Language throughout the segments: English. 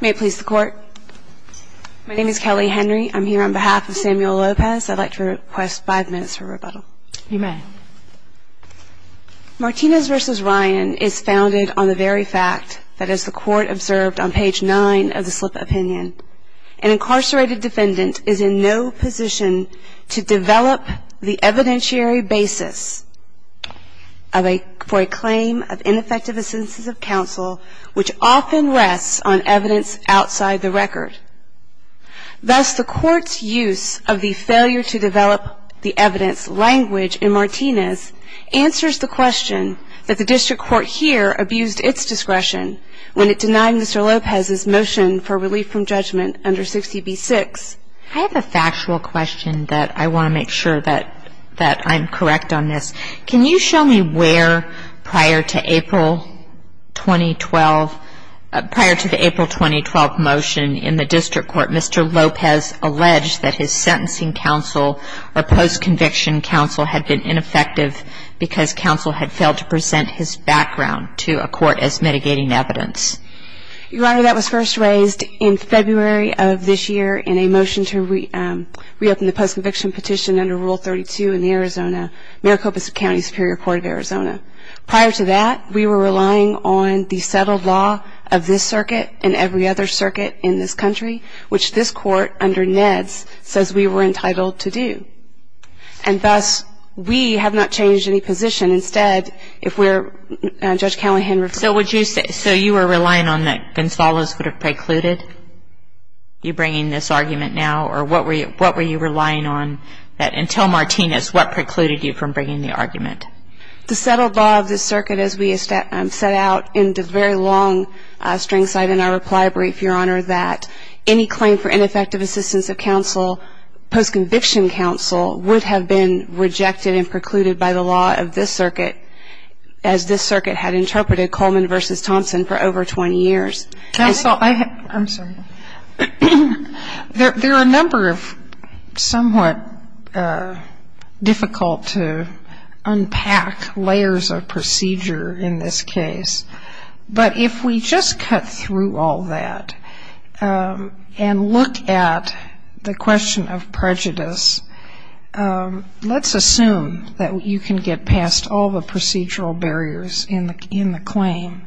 Martinez v. Ryan is founded on the very fact that, as the Court observed on page 9 of the Slip of Opinion, an incarcerated defendant is in no position to develop the evidentiary basis for a claim of ineffective assistance of counsel, which often rests on evidence outside the record. Thus, the Court's use of the failure-to-develop-the-evidence language in Martinez answers the question that the District Court here abused its discretion when it denied Mr. Lopez's motion for relief from judgment under 60b-6. I have a factual question that I want to make sure that I'm correct on this. Can you show me where, prior to the April 2012 motion in the District Court, Mr. Lopez alleged that his sentencing counsel or post-conviction counsel had been ineffective because counsel had failed to present his background to a court as mitigating evidence? Your Honor, that was first raised in February of this year in a motion to reopen the post-conviction petition under Rule 32 in the Arizona Maricopa County Superior Court of Arizona. Prior to that, we were relying on the settled law of this circuit and every other circuit in this country, which this Court, under NEDS, says we were entitled to do. And thus, we have not changed any position. Instead, if we're, Judge Callahan referred to The settled law of this circuit, as we have set out in the very long string cited in our reply brief, Your Honor, that any claim for ineffective assistance of counsel, post-conviction counsel, would have been rejected and precluded by the law of this circuit, as this circuit had interpreted Coleman v. Thompson for over 20 years. And so, we have not changed any position. I'm sorry. There are a number of somewhat difficult-to-unpack layers of procedure in this case. But if we just cut through all that and look at the question of prejudice, let's assume that you can get past all the procedural barriers in the claim.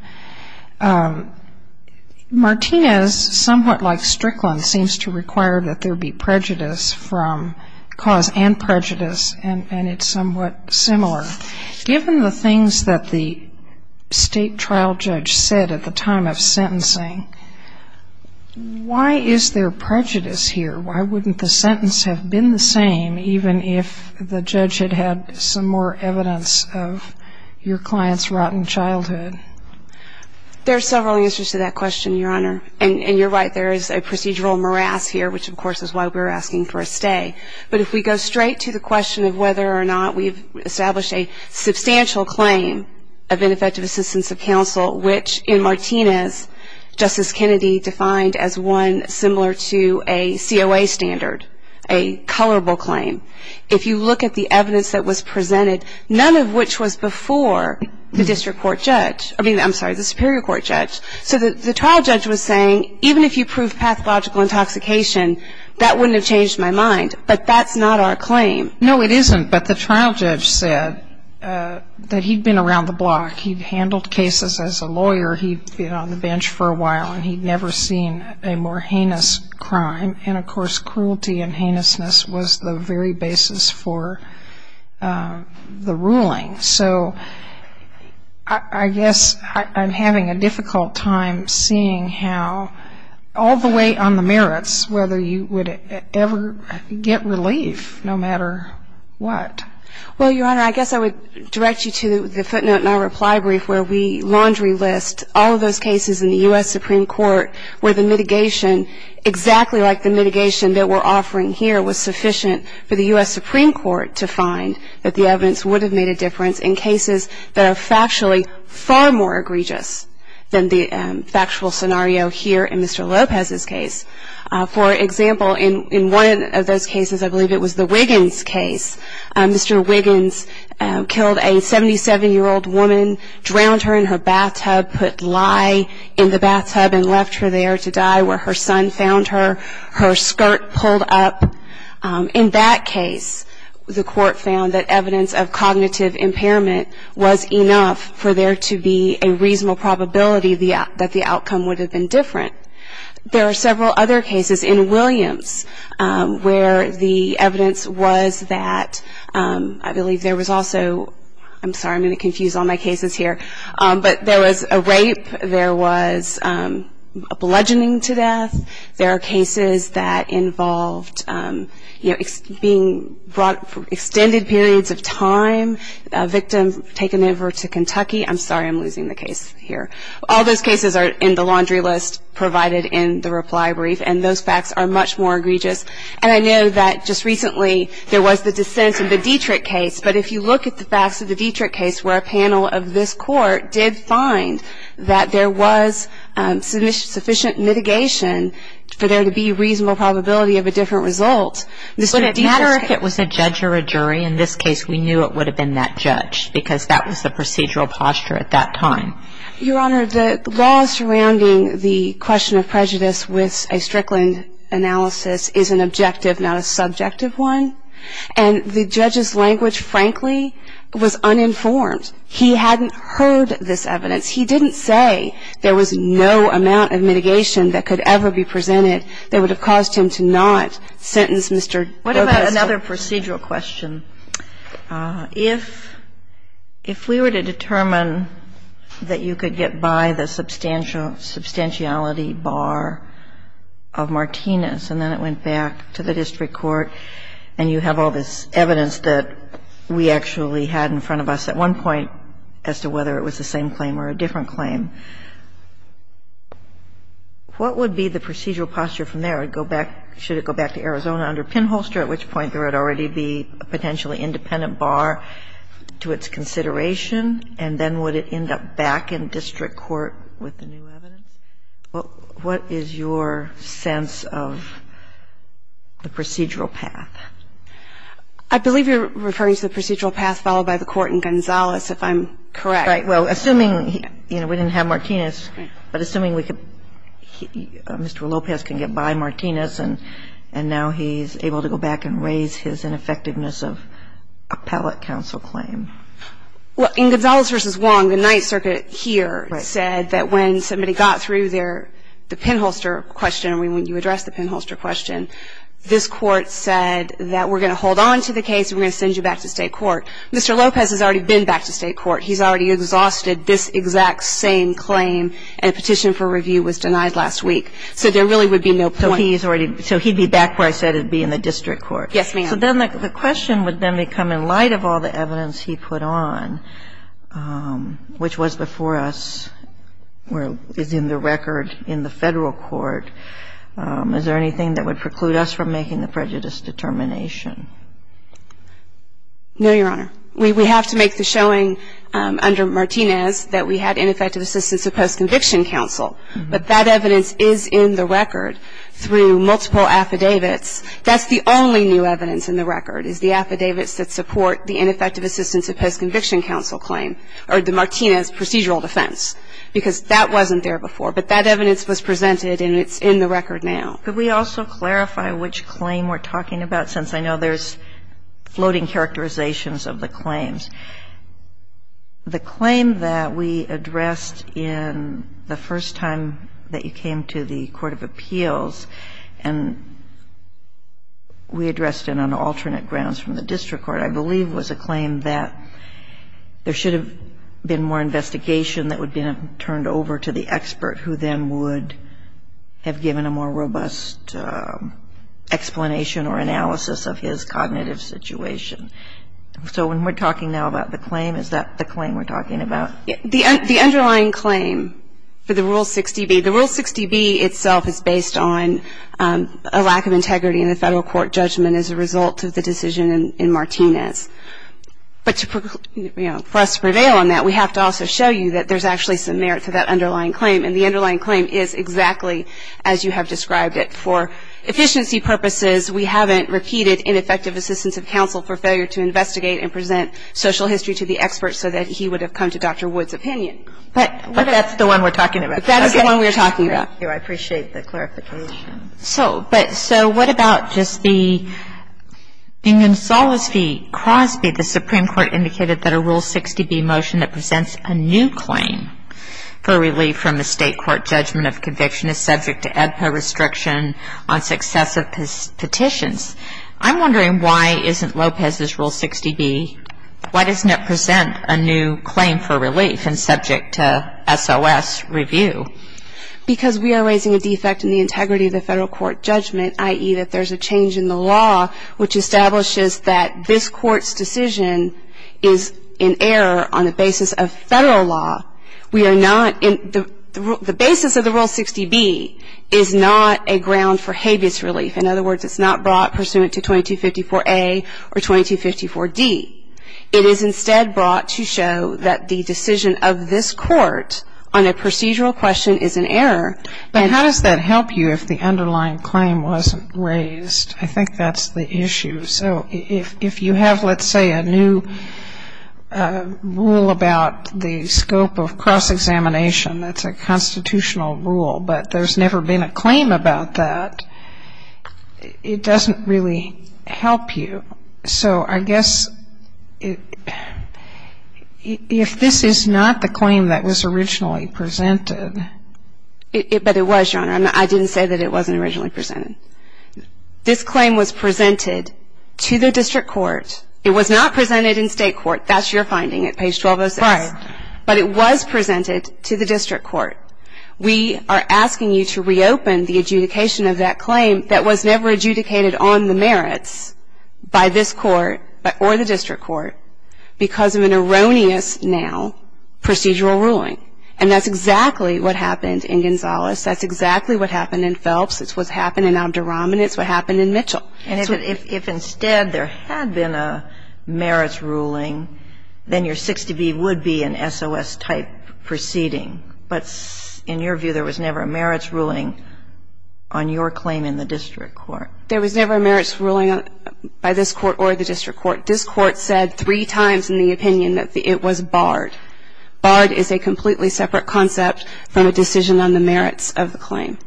Martinez, somewhat like Strickland, seems to require that there be prejudice from cause and prejudice, and it's somewhat similar. Given the things that the state trial judge said at the time of sentencing, why is there prejudice here? Why wouldn't the sentence have been the sentence claim, even if the judge had had some more evidence of your client's rotten childhood? There are several answers to that question, Your Honor. And you're right, there is a procedural morass here, which, of course, is why we're asking for a stay. But if we go straight to the question of whether or not we've established a substantial claim of ineffective assistance of counsel, which in Martinez, Justice Kennedy defined as one similar to a COA standard, a colorable claim, if you look at the evidence that was presented, none of which was before the district court judge. I mean, I'm sorry, the superior court judge. So the trial judge was saying, even if you prove pathological intoxication, that wouldn't have changed my mind. But that's not our claim. No, it isn't. But the trial judge said that he'd been around the block. He'd handled cases as a lawyer. He'd been on the bench for a while, and he'd never seen a more heinous crime. And, of course, cruelty and heinousness was the very basis for the ruling. So I guess I'm having a difficult time seeing how, all the way on the merits, whether you would ever get relief, no matter what. Well, Your Honor, I guess I would direct you to the footnote in our reply brief where we laundry list all of those cases in the U.S. Supreme Court where the mitigation, exactly like the mitigation that we're offering here, was sufficient for the U.S. Supreme Court to find that the evidence would have made a difference in cases that are factually far more egregious than the factual scenario here in Mr. Lopez's case. For example, in one of those cases, I believe it was the Wiggins case, Mr. Wiggins killed a 77-year-old woman, drowned her in her bathtub, put lye in the bathtub and left her there to die where her son found her, her skirt pulled up. In that case, the court found that evidence of cognitive impairment was enough for there to be a reasonable probability that the outcome would have been different. There are several other cases in Williams where the evidence was that, I believe there was also, I'm sorry, I'm going to confuse all my cases here, but there was a rape, there was a bludgeoning to death, there are cases that involved, you know, being brought for extended periods of time, a victim taken over to Kentucky. I'm sorry, I'm losing the case here. All those cases are in the laundry list provided in the reply brief and those facts are much more egregious. And I know that just recently there was the dissent in the Dietrich case, but if you look at the facts of the Dietrich case where a panel of this court did find that there was sufficient mitigation for there to be a reasonable probability of a different result. But it didn't matter if it was a judge or a jury. In this case, we knew it would have been that judge because that was the procedural posture at that time. Your Honor, the law surrounding the question of prejudice with a Strickland analysis is an objective, not a subjective one. And the judge's language, frankly, was uninformed. He hadn't heard this evidence. He didn't say there was no amount of mitigation that could ever be presented that would have caused him to not sentence Mr. Douglas. Kagan. What about another procedural question? If we were to determine that you could get by the substantiality bar of Martinez and then it went back to the district court and you have all this evidence that we actually had in front of us at one point as to whether it was the same claim or a different claim, what would be the procedural posture from there? Would it go back? Should it go back to Arizona under Pinholster, at which point there would already be a potentially independent bar to its consideration, and then would it end up back in district court with the new evidence? What is your sense of the procedural path? I believe you're referring to the procedural path followed by the court in Gonzales, if I'm correct. Right. Well, assuming, you know, we didn't have Martinez, but assuming we could Mr. Lopez can get by Martinez and now he's able to go back and raise his ineffectiveness of appellate counsel claim. Well, in Gonzales v. Wong, the Ninth Circuit here said that when somebody got through their – the Pinholster question, when you addressed the Pinholster question, this Court said that we're going to hold on to the case and we're going to send you back to state court. Mr. Lopez has already been back to state court. He's already exhausted this exact same claim, and a petition for review was denied last week. So there really would be no point. So he's already – so he'd be back where I said he'd be in the district court. Yes, ma'am. So then the question would then become in light of all the evidence he put on, which was before us, is in the record in the Federal court. Is there anything that would preclude us from making the prejudice determination? No, Your Honor. We have to make the showing under Martinez that we had ineffective assistance of post-conviction counsel, but that evidence is in the record through multiple affidavits. That's the only new evidence in the record, is the affidavits that support the ineffective assistance of post-conviction counsel claim, or the Martinez procedural defense, because that wasn't there before. But that evidence was presented and it's in the record now. Could we also clarify which claim we're talking about, since I know there's floating characterizations of the claims? The claim that we addressed in the first time that you came to the court of appeals, and we addressed it on alternate grounds from the district court, I believe was a claim that there should have been more investigation that would have been turned over to the expert who then would have given a more robust explanation or analysis of his cognitive situation. So when we're talking now about the claim, is that the claim we're talking about? The underlying claim for the Rule 60B, the Rule 60B itself is based on a lack of integrity in the federal court judgment as a result of the decision in Martinez. But for us to prevail on that, we have to also show you that there's actually some merit to that underlying claim, and the underlying claim is exactly as you have described it. For efficiency purposes, we haven't repeated ineffective assistance of counsel for failure to investigate and present social history to the expert so that he would have come to Dr. Wood's opinion. But that's the one we're talking about. That is the one we're talking about. Thank you. I appreciate the clarification. But so what about just the, in Gonzales v. Crosby, the Supreme Court indicated that a Rule 60B motion that presents a new claim for relief from the state court judgment of conviction is subject to EBPA restriction on successive petitions. I'm wondering why isn't Lopez's Rule 60B, why doesn't it present a new claim for relief and subject to SOS review? Because we are raising a defect in the integrity of the federal court judgment, i.e., that there's a change in the law which establishes that this court's decision is in error on the basis of federal law. We are not, the basis of the Rule 60B is not a ground for habeas relief. In other words, it's not brought pursuant to 2254A or 2254D. It is instead brought to show that the decision of this court on a procedural question is in error. But how does that help you if the underlying claim wasn't raised? I think that's the issue. So if you have, let's say, a new rule about the scope of cross-examination, that's a constitutional rule, but there's never been a claim about that, it doesn't really help you. So I guess if this is not the claim that was originally presented. But it was, Your Honor. I didn't say that it wasn't originally presented. This claim was presented to the district court. It was not presented in state court. That's your finding at page 1206. Right. But it was presented to the district court. We are asking you to reopen the adjudication of that claim that was never adjudicated on the merits by this court or the district court because of an erroneous, now, procedural ruling. And that's exactly what happened in Gonzales. That's exactly what happened in Phelps. It's what happened in Abdurahman. It's what happened in Mitchell. And if instead there had been a merits ruling, then your 60B would be an SOS-type proceeding. But in your view, there was never a merits ruling on your claim in the district court. There was never a merits ruling by this court or the district court. This court said three times in the opinion that it was barred. Barred is a completely separate concept from a decision on the merits of the claim.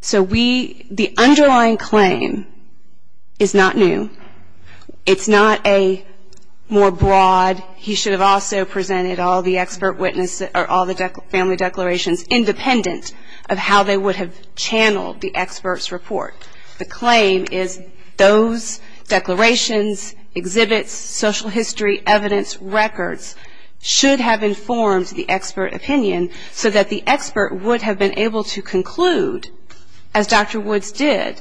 So the underlying claim is not new. It's not a more broad, he should have also presented all the expert witnesses or all the family declarations independent of how they would have channeled the expert's report. The claim is those declarations, exhibits, social history, evidence, records, should have informed the expert opinion so that the expert would have been able to conclude, as Dr. Woods did,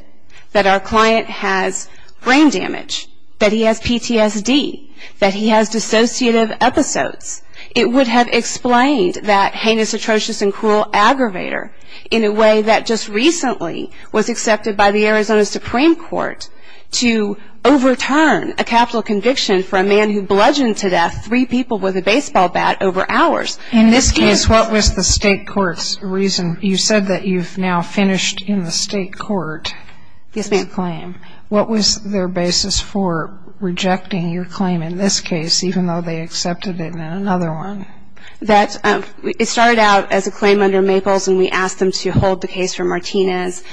that our client has brain damage, that he has PTSD, that he has dissociative episodes. It would have explained that heinous, atrocious and cruel aggravator in a way that just recently was accepted by the Arizona Supreme Court to overturn a capital conviction for a man who bludgeoned to death three people with a baseball bat over hours. In this case, what was the state court's reason? You said that you've now finished in the state court. Yes, ma'am. This claim. What was their basis for rejecting your claim in this case, even though they accepted it? Another one. It started out as a claim under Maples, and we asked them to hold the case for Martinez.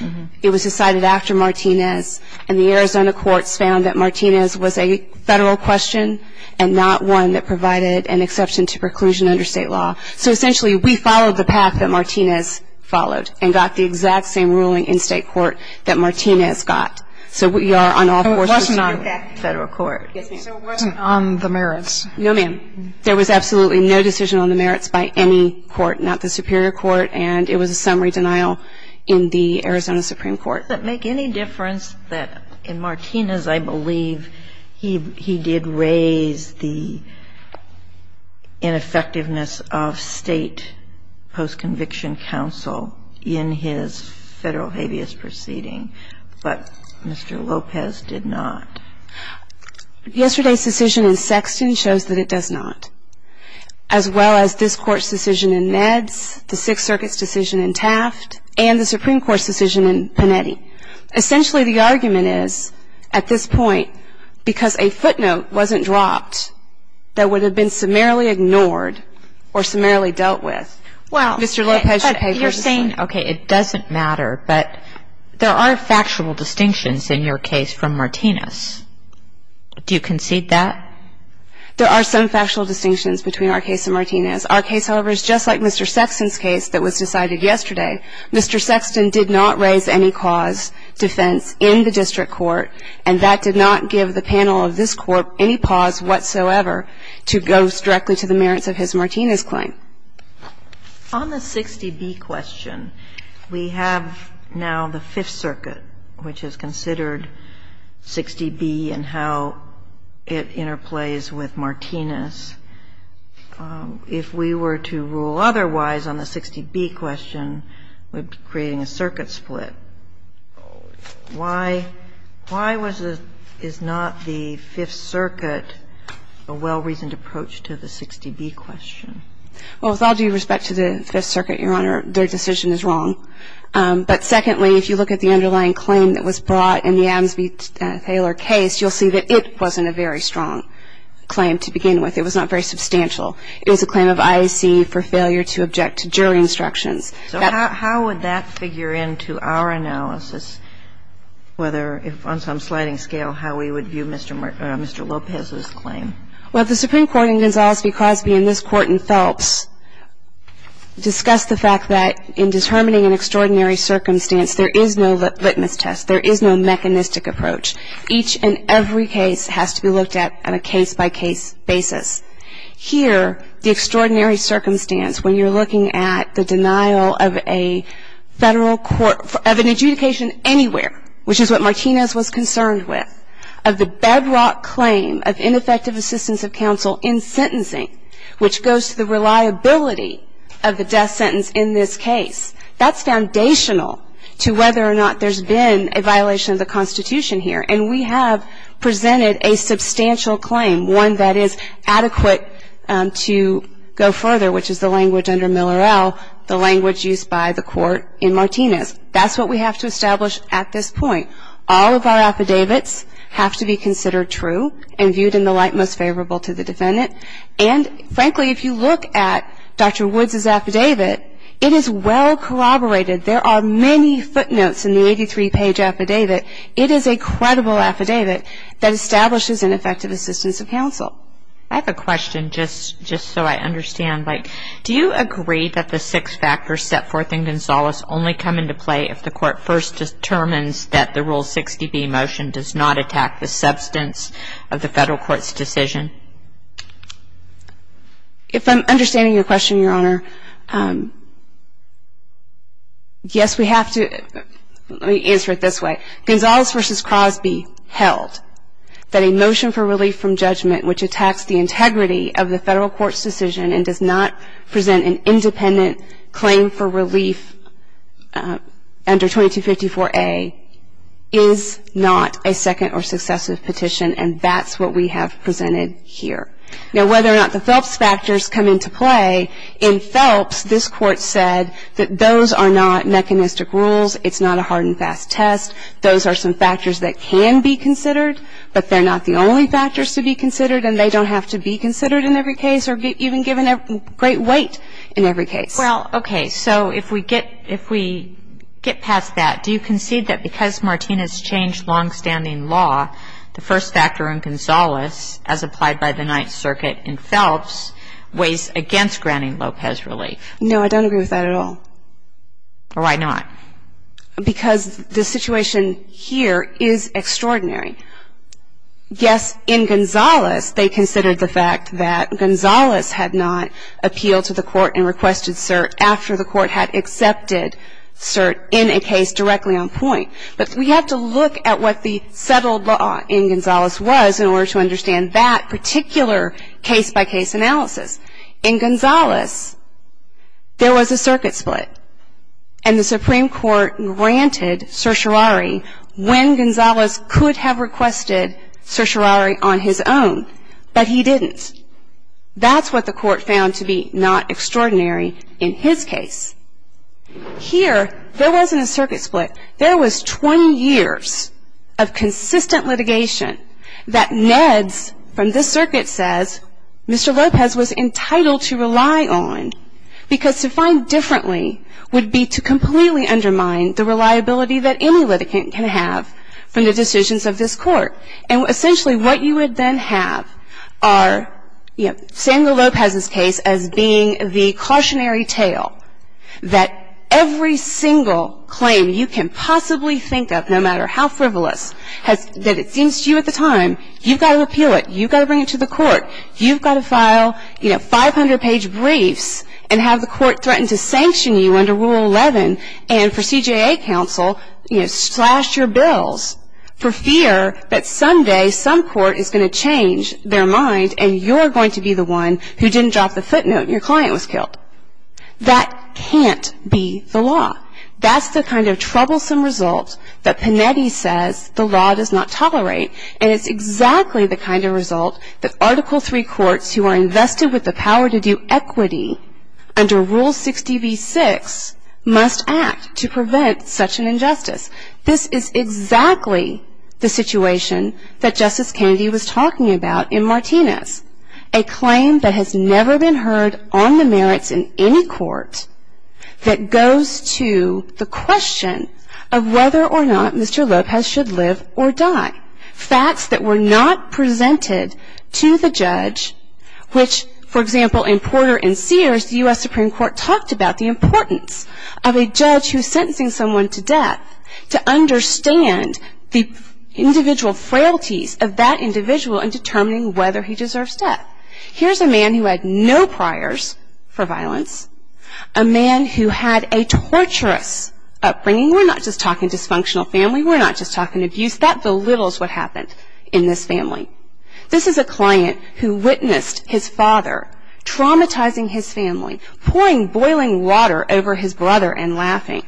It was decided after Martinez, and the Arizona courts found that Martinez was a federal question and not one that provided an exception to preclusion under state law. So essentially, we followed the path that Martinez followed and got the exact same ruling in state court that Martinez got. So we are on all fours with you. It wasn't on the federal court. Yes, ma'am. It wasn't on the merits. No, ma'am. There was absolutely no decision on the merits by any court, not the superior court, and it was a summary denial in the Arizona Supreme Court. Does it make any difference that in Martinez, I believe, he did raise the ineffectiveness of state post-conviction counsel in his federal habeas proceeding, but Mr. Lopez did not? Yesterday's decision in Sexton shows that it does not, as well as this Court's decision in Neds, the Sixth Circuit's decision in Taft, and the Supreme Court's decision in Panetti. Essentially, the argument is, at this point, because a footnote wasn't dropped that would have been summarily ignored or summarily dealt with, Mr. Lopez should pay for this one. And, okay, it doesn't matter, but there are factual distinctions in your case from Martinez. Do you concede that? There are some factual distinctions between our case and Martinez. Our case, however, is just like Mr. Sexton's case that was decided yesterday. Mr. Sexton did not raise any cause defense in the district court, and that did not give the panel of this Court any pause whatsoever to go directly to the merits of his Martinez claim. On the 60B question, we have now the Fifth Circuit, which is considered 60B and how it interplays with Martinez. If we were to rule otherwise on the 60B question, we'd be creating a circuit split. Why was the – is not the Fifth Circuit a well-reasoned approach to the 60B question? Well, with all due respect to the Fifth Circuit, Your Honor, their decision is wrong. But secondly, if you look at the underlying claim that was brought in the Adams v. Taylor case, you'll see that it wasn't a very strong claim to begin with. It was not very substantial. It was a claim of IAC for failure to object to jury instructions. So how would that figure into our analysis, whether on some sliding scale, how we would view Mr. Lopez's claim? Well, the Supreme Court in Gonzales v. Crosby and this Court in Phelps discussed the fact that in determining an extraordinary circumstance, there is no litmus test. There is no mechanistic approach. Each and every case has to be looked at on a case-by-case basis. Here, the extraordinary circumstance, when you're looking at the denial of a Federal court – of an adjudication anywhere, which is what Martinez was concerned with – of the bedrock claim of ineffective assistance of counsel in sentencing, which goes to the reliability of the death sentence in this case, that's foundational to whether or not there's been a violation of the Constitution here. And we have presented a substantial claim, one that is adequate to go further, which is the language under Miller-El, the language used by the Court in Martinez. That's what we have to establish at this point. All of our affidavits have to be considered true and viewed in the light most favorable to the defendant. And, frankly, if you look at Dr. Woods' affidavit, it is well-collaborated. There are many footnotes in the 83-page affidavit. It is a credible affidavit that establishes ineffective assistance of counsel. I have a question, just so I understand. Do you agree that the six factors set forth in Gonzales only come into play if the Rule 60B motion does not attack the substance of the Federal Court's decision? If I'm understanding your question, Your Honor, yes, we have to answer it this way. Gonzales v. Crosby held that a motion for relief from judgment, which attacks the integrity of the Federal Court's decision and does not present an independent claim for relief under 2254A, is not a second or successive petition, and that's what we have presented here. Now, whether or not the Phelps factors come into play, in Phelps, this Court said that those are not mechanistic rules. It's not a hard and fast test. Those are some factors that can be considered, but they're not the only factors to be considered, and they don't have to be considered in every case or even given great weight in every case. Well, okay, so if we get past that, do you concede that because Martinez changed longstanding law, the first factor in Gonzales, as applied by the Ninth Circuit in Phelps, weighs against granting Lopez relief? No, I don't agree with that at all. Why not? Because the situation here is extraordinary. Yes, in Gonzales, they considered the fact that Gonzales had not appealed to the court and requested cert after the court had accepted cert in a case directly on point, but we have to look at what the settled law in Gonzales was in order to understand that particular case-by-case analysis. In Gonzales, there was a circuit split, and the Supreme Court granted certiorari when Gonzales could have requested certiorari on his own, but he didn't. That's what the court found to be not extraordinary in his case. Here, there wasn't a circuit split. There was 20 years of consistent litigation that NEDS from this circuit says Mr. Lopez was entitled to rely on because to find differently would be to completely undermine the reliability that any litigant can have from the decisions of this court, and essentially what you would then have are, you know, Samuel Lopez's case as being the cautionary tale that every single claim you can possibly think of, no matter how frivolous, that it seems to you at the time, you've got to appeal it. You've got to bring it to the court. You've got to file, you know, 500-page briefs and have the court threaten to sanction you under Rule 11 and for CJA counsel, you know, slash your bills for fear that someday some court is going to change their mind and you're going to be the one who didn't drop the footnote and your client was killed. That can't be the law. That's the kind of troublesome result that Panetti says the law does not tolerate, and it's exactly the kind of result that Article III courts who are invested with the power to do equity under Rule 60v6 must act to prevent such an injustice. This is exactly the situation that Justice Kennedy was talking about in Martinez, a claim that has never been heard on the merits in any court that goes to the question of whether or not Mr. Lopez should live or die. Facts that were not presented to the judge, which, for example, in Porter and Sears, the U.S. Supreme Court talked about the importance of a judge who is sentencing someone to death to understand the individual frailties of that individual in determining whether he deserves death. Here's a man who had no priors for violence, a man who had a torturous upbringing. We're not just talking dysfunctional family. We were not just talking abuse. That belittles what happened in this family. This is a client who witnessed his father traumatizing his family, pouring boiling water over his brother and laughing,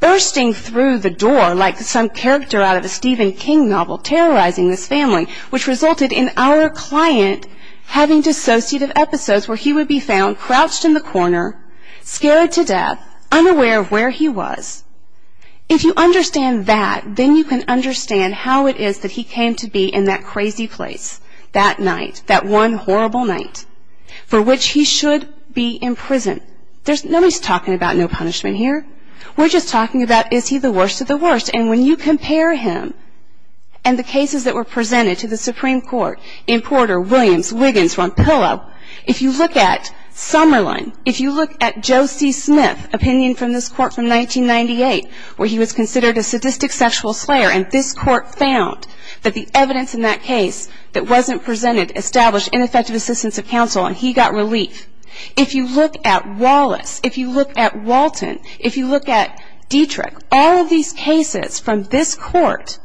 bursting through the door like some character out of a Stephen King novel, terrorizing this family, which resulted in our client having dissociative episodes where he would be found crouched in the corner, scared to death, unaware of where he was. If you understand that, then you can understand how it is that he came to be in that crazy place that night, that one horrible night, for which he should be imprisoned. Nobody's talking about no punishment here. We're just talking about is he the worst of the worst, and when you compare him and the cases that were presented to the Supreme Court in Porter, Williams, Wiggins, Ronpillo, if you look at Summerlin, if you look at Joe C. Smith, opinion from this court from 1998, where he was considered a sadistic sexual slayer, and this court found that the evidence in that case that wasn't presented established ineffective assistance of counsel, and he got relief. If you look at Wallace, if you look at Walton, if you look at Dietrich, all of these cases from this court,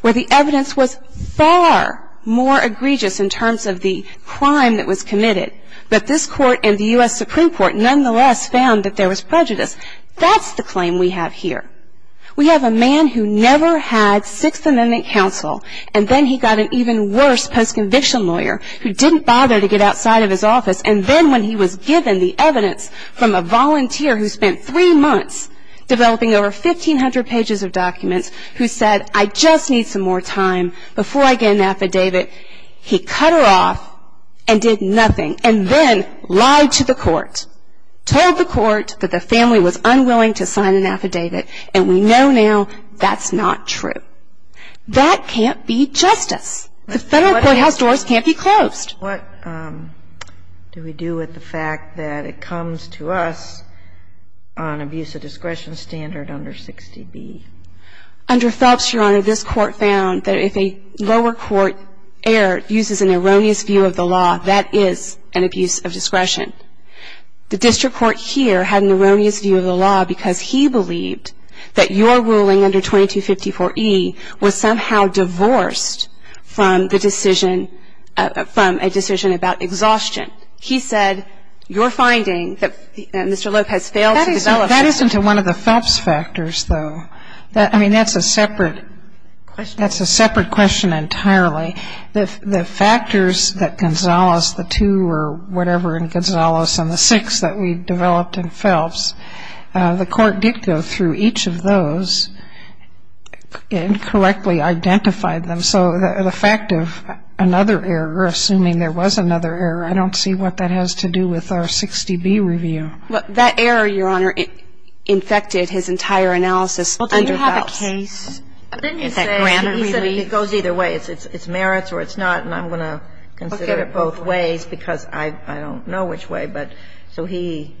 where the evidence was far more egregious in terms of the crime that was committed, but this court and the U.S. Supreme Court nonetheless found that there was prejudice, that's the claim we have here. We have a man who never had Sixth Amendment counsel, and then he got an even worse post-conviction lawyer who didn't bother to get outside of his office, and then when he was given the evidence from a volunteer who spent three months developing over 1,500 pages of documents, who said, I just need some more time before I get an affidavit, he cut her off and did nothing, and then lied to the court, told the court that the family was unwilling to sign an affidavit, and we know now that's not true. That can't be justice. The Federal courthouse doors can't be closed. What do we do with the fact that it comes to us on abuse of discretion standard under 60B? Under Phelps, Your Honor, this court found that if a lower court heir uses an erroneous view of the law, that is an abuse of discretion. The district court here had an erroneous view of the law because he believed that your ruling under 2254E was somehow divorced from the decision, from a decision about exhaustion. He said, Your finding, that Mr. Lopez failed to develop. That isn't one of the Phelps factors, though. I mean, that's a separate question entirely. The factors that Gonzales, the two or whatever in Gonzales, and the six that we developed in Phelps, the court did go through each of those and correctly identified them. So the fact of another error, assuming there was another error, I don't see what that has to do with our 60B review. That error, Your Honor, infected his entire analysis under Phelps. Well, didn't he have a case that granted relief? He said it goes either way. It's merits or it's not, and I'm going to consider it both ways because I don't know which way, but so he.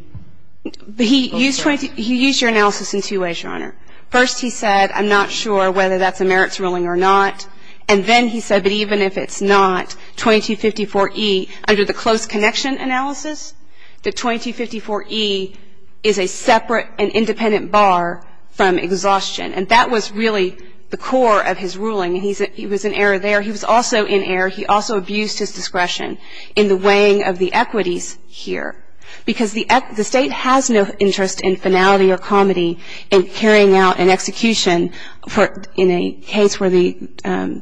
He used your analysis in two ways, Your Honor. First, he said, I'm not sure whether that's a merits ruling or not. And then he said that even if it's not, 2254E, under the close connection analysis, the 2254E is a separate and independent bar from exhaustion, and that was really the core of his ruling. He was in error there. He was also in error. He also abused his discretion in the weighing of the equities here because the State has no interest in finality or comity in carrying out an execution in a case where the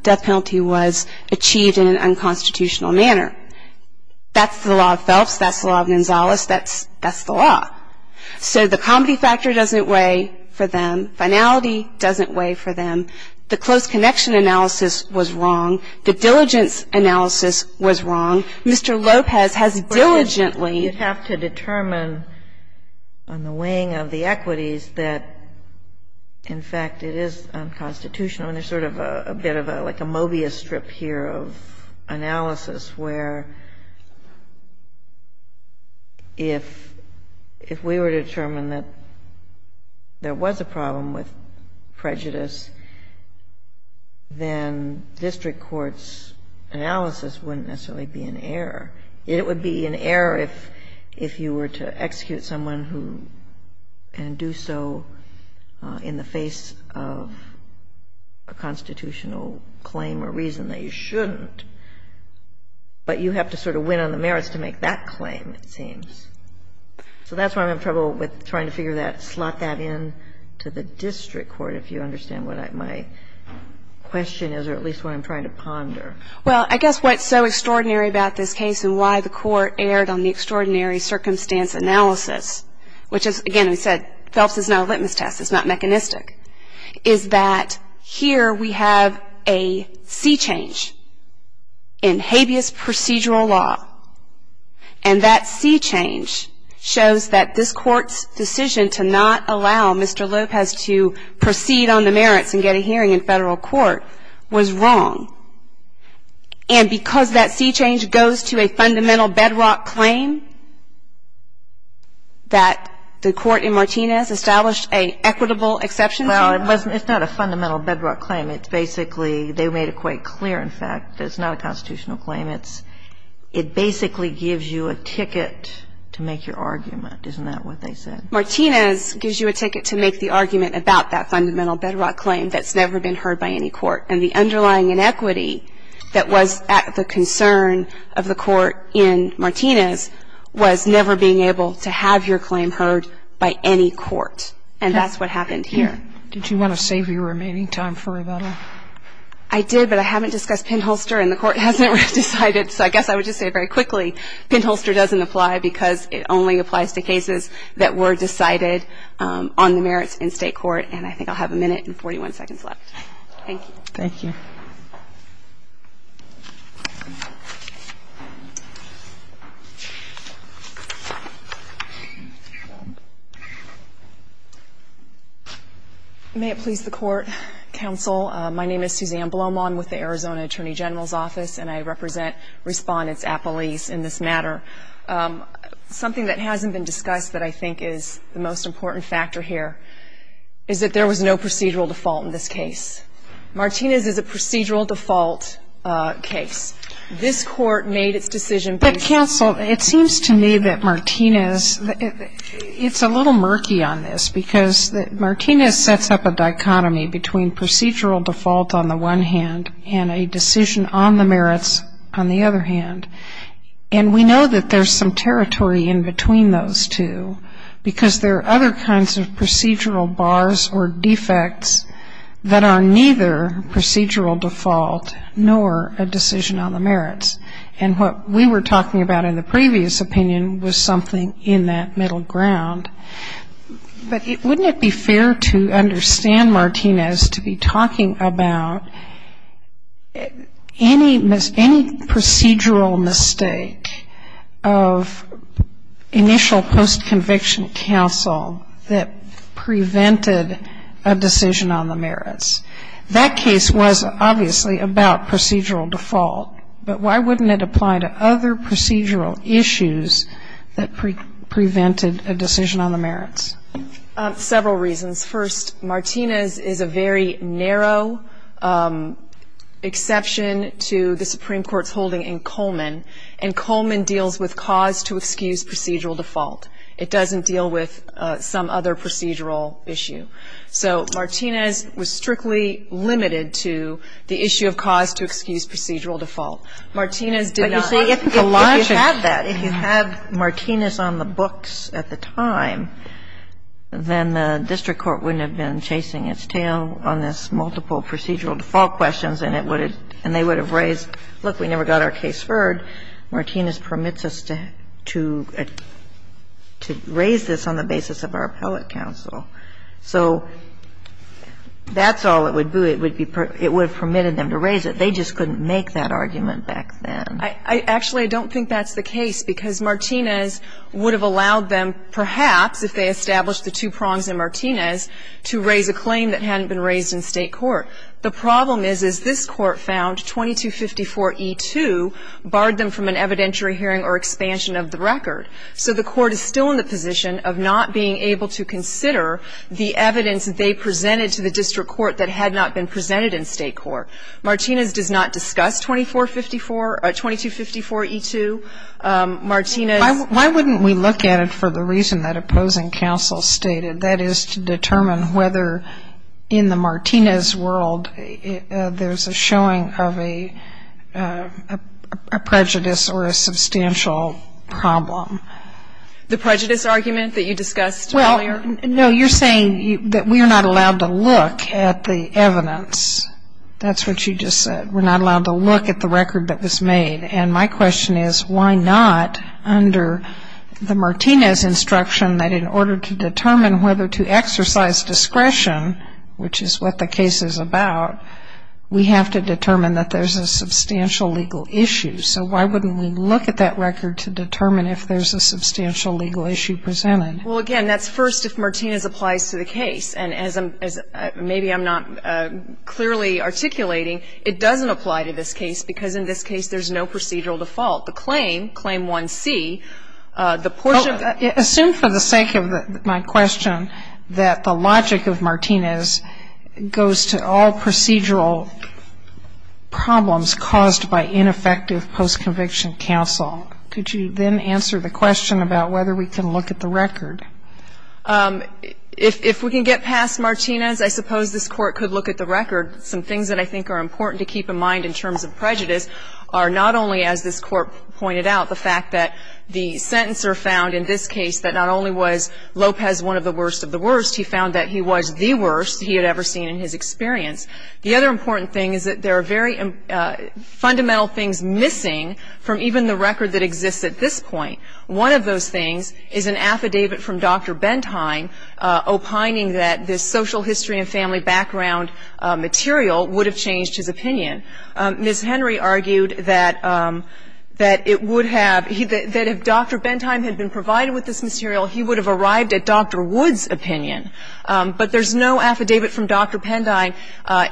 death penalty was achieved in an unconstitutional manner. That's the law of Phelps. That's the law of Gonzalez. That's the law. So the comity factor doesn't weigh for them. Finality doesn't weigh for them. The close connection analysis was wrong. The diligence analysis was wrong. Mr. Lopez has diligently ---- But you'd have to determine on the weighing of the equities that, in fact, it is unconstitutional. I mean, there's sort of a bit of like a Mobius strip here of analysis where if we were to determine that there was a problem with prejudice, then district court's analysis wouldn't necessarily be in error. It would be in error if you were to execute someone who can do so in the face of a constitutional claim or reason that you shouldn't. But you have to sort of win on the merits to make that claim, it seems. So that's why I'm having trouble with trying to figure that, slot that in to the district court, if you understand what my question is, or at least what I'm trying to ponder. Well, I guess what's so extraordinary about this case and why the Court erred on the extraordinary circumstance analysis, which is, again, we said Phelps is not a litmus test. It's not mechanistic, is that here we have a sea change in habeas procedural law. And that sea change shows that this Court's decision to not allow Mr. Lopez to proceed on the merits and get a hearing in federal court was wrong. And because that sea change goes to a fundamental bedrock claim that the Court in Martinez gives you a ticket to make the argument about that fundamental bedrock claim that's never been heard by any court. And the underlying inequity that was at the concern of the Court in Martinez was never being able to have your claim heard by any court. And that's what happened. And that's what happened. And that's what happened here. Did you want to save your remaining time for rebuttal? I did, but I haven't discussed Pindholster and the Court hasn't decided. So I guess I would just say very quickly, Pindholster doesn't apply because it only applies to cases that were decided on the merits in state court. And I think I'll have a minute and 41 seconds left. Thank you. Thank you. May it please the Court. Counsel, my name is Suzanne Blomaw. I'm with the Arizona Attorney General's Office, and I represent Respondents at Police in this matter. Something that hasn't been discussed that I think is the most important factor here is that there was no procedural default in this case. Martinez is a procedural default case. This Court made its decision based on the merits. But, counsel, it seems to me that Martinez, it's a little murky on this because Martinez sets up a dichotomy between procedural default on the one hand and a decision on the merits on the other hand. And we know that there's some territory in between those two because there are other kinds of procedural bars or defects that are neither procedural default nor a decision on the merits. And what we were talking about in the previous opinion was something in that middle ground. But wouldn't it be fair to understand Martinez to be talking about any procedural mistake of initial post-conviction counsel that prevented a decision on the merits? That case was obviously about procedural default, but why wouldn't it apply to other Several reasons. First, Martinez is a very narrow exception to the Supreme Court's holding in Coleman, and Coleman deals with cause to excuse procedural default. It doesn't deal with some other procedural issue. So Martinez was strictly limited to the issue of cause to excuse procedural default. Martinez did not. But if you had that, if you had Martinez on the books at the time, then the district court wouldn't have been chasing its tail on this multiple procedural default questions, and it would have raised, look, we never got our case heard. Martinez permits us to raise this on the basis of our appellate counsel. So that's all it would do. It would have permitted them to raise it. They just couldn't make that argument back then. Actually, I don't think that's the case, because Martinez would have allowed them, perhaps, if they established the two prongs in Martinez, to raise a claim that hadn't been raised in State court. The problem is, as this Court found, 2254e2 barred them from an evidentiary hearing or expansion of the record. So the Court is still in the position of not being able to consider the evidence that they presented to the district court that had not been presented in State court. Martinez does not discuss 2454 or 2254e2. Martinez ---- Why wouldn't we look at it for the reason that opposing counsel stated? That is, to determine whether in the Martinez world there's a showing of a prejudice or a substantial problem. The prejudice argument that you discussed earlier? Well, no. You're saying that we are not allowed to look at the evidence. That's what you just said. We're not allowed to look at the record that was made. And my question is, why not under the Martinez instruction that in order to determine whether to exercise discretion, which is what the case is about, we have to determine that there's a substantial legal issue. So why wouldn't we look at that record to determine if there's a substantial legal issue presented? Well, again, that's first if Martinez applies to the case. And as maybe I'm not clearly articulating, it doesn't apply to this case because in this case there's no procedural default. The claim, Claim 1C, the portion of the ---- Well, assume for the sake of my question that the logic of Martinez goes to all procedural problems caused by ineffective post-conviction counsel. Could you then answer the question about whether we can look at the record? If we can get past Martinez, I suppose this Court could look at the record. Some things that I think are important to keep in mind in terms of prejudice are not only, as this Court pointed out, the fact that the sentencer found in this case that not only was Lopez one of the worst of the worst, he found that he was the worst he had ever seen in his experience. The other important thing is that there are very fundamental things missing from even the record that exists at this point. One of those things is an affidavit from Dr. Bentheim opining that this social history and family background material would have changed his opinion. Ms. Henry argued that it would have, that if Dr. Bentheim had been provided with this material, he would have arrived at Dr. Wood's opinion. But there's no affidavit from Dr. Pendine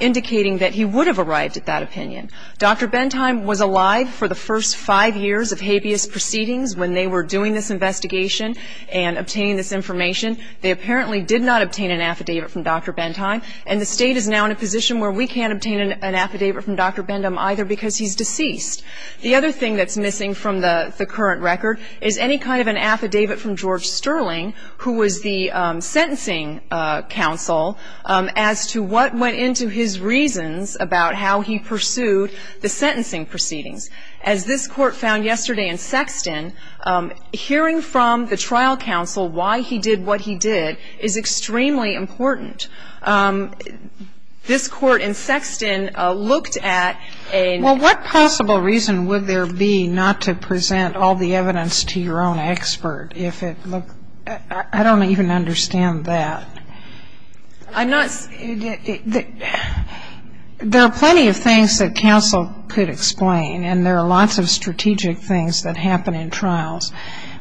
indicating that he would have arrived at that opinion. Dr. Bentheim was alive for the first five years of habeas proceedings when they were doing this investigation and obtaining this information. They apparently did not obtain an affidavit from Dr. Bentheim. And the State is now in a position where we can't obtain an affidavit from Dr. Bendham either because he's deceased. The other thing that's missing from the current record is any kind of an affidavit from George Sterling, who was the sentencing counsel, as to what went into his decision to pursue the sentencing proceedings. As this Court found yesterday in Sexton, hearing from the trial counsel why he did what he did is extremely important. This Court in Sexton looked at a ---- Well, what possible reason would there be not to present all the evidence to your own expert if it looked ---- I don't even understand that. I'm not ---- There are plenty of things that counsel could explain. And there are lots of strategic things that happen in trials.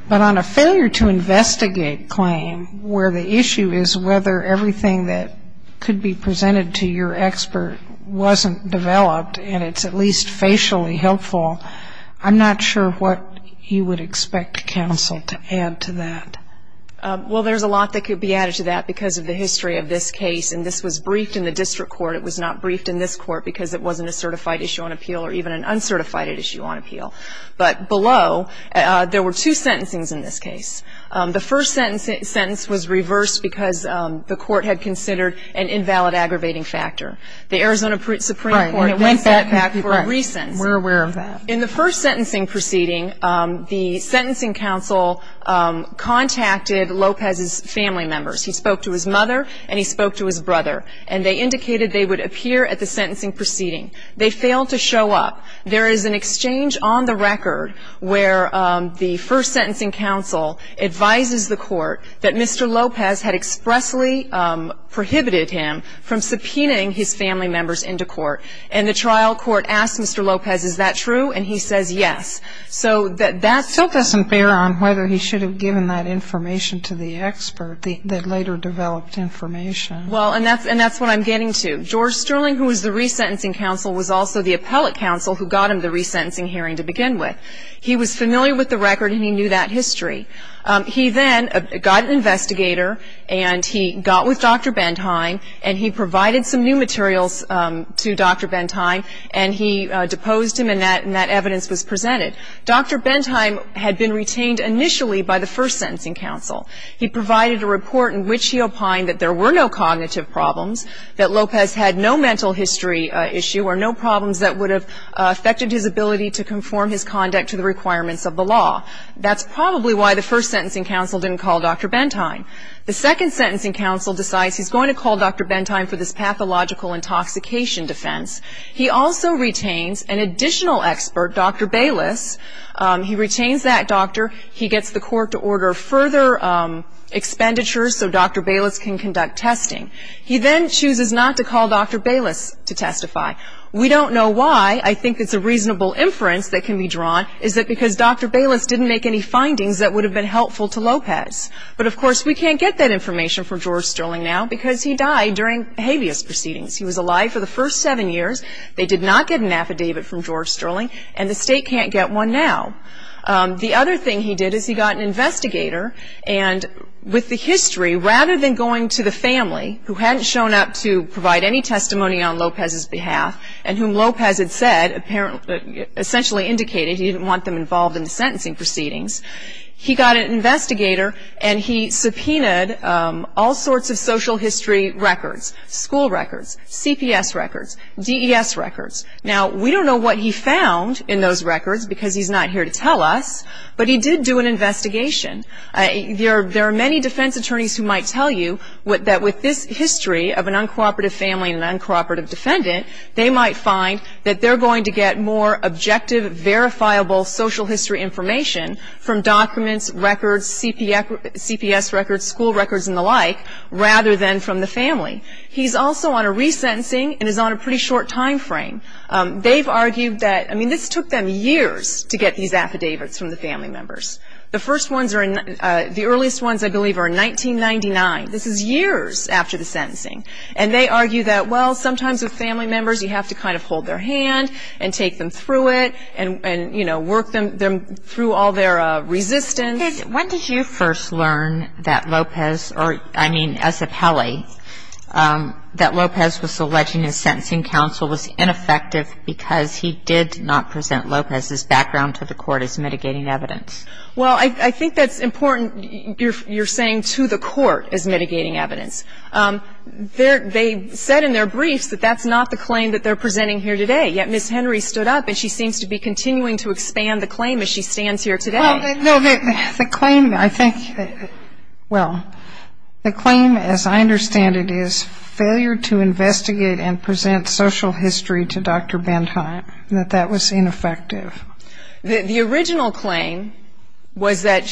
But on a failure to investigate claim where the issue is whether everything that could be presented to your expert wasn't developed and it's at least facially helpful, I'm not sure what you would expect counsel to add to that. Well, there's a lot that could be added to that because of the history of this case, and this was briefed in the district court. It was not briefed in this court because it wasn't a certified issue on appeal or even an uncertified issue on appeal. But below, there were two sentencings in this case. The first sentence was reversed because the court had considered an invalid aggravating factor. The Arizona Supreme Court ---- All right. We're aware of that. In the first sentencing proceeding, the sentencing counsel contacted Lopez's family members. He spoke to his mother and he spoke to his brother. And they indicated they would appear at the sentencing proceeding. They failed to show up. There is an exchange on the record where the first sentencing counsel advises the court that Mr. Lopez had expressly prohibited him from subpoenaing his family members into court. And the trial court asked Mr. Lopez, is that true? And he says yes. So that's ---- It still doesn't bear on whether he should have given that information to the expert. They later developed information. Well, and that's what I'm getting to. George Sterling, who was the resentencing counsel, was also the appellate counsel who got him the resentencing hearing to begin with. He was familiar with the record and he knew that history. He then got an investigator and he got with Dr. Bentheim and he provided some new materials to Dr. Bentheim and he deposed him and that evidence was presented. Dr. Bentheim had been retained initially by the first sentencing counsel. He provided a report in which he opined that there were no cognitive problems, that Lopez had no mental history issue or no problems that would have affected his ability to conform his conduct to the requirements of the law. That's probably why the first sentencing counsel didn't call Dr. Bentheim. The second sentencing counsel decides he's going to call Dr. Bentheim for this pathological intoxication defense. He also retains an additional expert, Dr. Bayless. He retains that doctor. He gets the court to order further expenditures so Dr. Bayless can conduct testing. He then chooses not to call Dr. Bayless to testify. We don't know why. I think it's a reasonable inference that can be drawn, is it because Dr. Bayless didn't make any findings that would have been helpful to Lopez. But, of course, we can't get that information from George Sterling now because he died during habeas proceedings. He was alive for the first seven years. They did not get an affidavit from George Sterling and the state can't get one now. The other thing he did is he got an investigator and with the history, rather than going to the family who hadn't shown up to provide any testimony on Lopez's behalf and whom Lopez had said essentially indicated he didn't want them involved in the sentencing proceedings, he got an investigator and he subpoenaed all sorts of social history records, school records, CPS records, DES records. Now, we don't know what he found in those records because he's not here to tell us, but he did do an investigation. There are many defense attorneys who might tell you that with this history of an uncooperative family and an uncooperative defendant, they might find that they're going to get more objective, verifiable social history information from documents, records, CPS records, school records and the like rather than from the family. He's also on a resentencing and is on a pretty short time frame. They've argued that, I mean, this took them years to get these affidavits from the family members. The first ones are in, the earliest ones I believe are in 1999. This is years after the sentencing. And they argue that, well, sometimes with family members you have to kind of hold their hand and take them through it and, you know, work them through all their resistance. When did you first learn that Lopez or, I mean, Ezepelli, that Lopez was alleging his sentencing counsel was ineffective because he did not present Lopez's background to the court as mitigating evidence? Well, I think that's important. You're saying to the court as mitigating evidence. They said in their briefs that that's not the claim that they're presenting here today, yet Ms. Henry stood up and she seems to be continuing to expand the claim as she stands here today. Well, no, the claim, I think, well, the claim, as I understand it, is failure to investigate and present social history to Dr. Bentheim, that that was ineffective. The original claim was that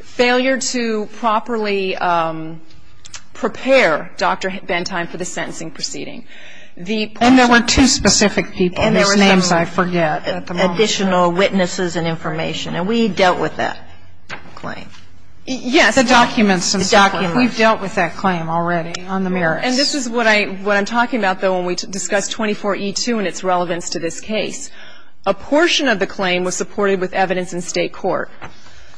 failure to properly prepare Dr. Bentheim for the sentencing proceeding. And there were two specific people whose names I forget at the moment. Additional witnesses and information. And we dealt with that claim. Yes. The documents. The documents. We've dealt with that claim already on the merits. And this is what I'm talking about, though, when we discuss 24E2 and its relevance to this case. A portion of the claim was supported with evidence in State court.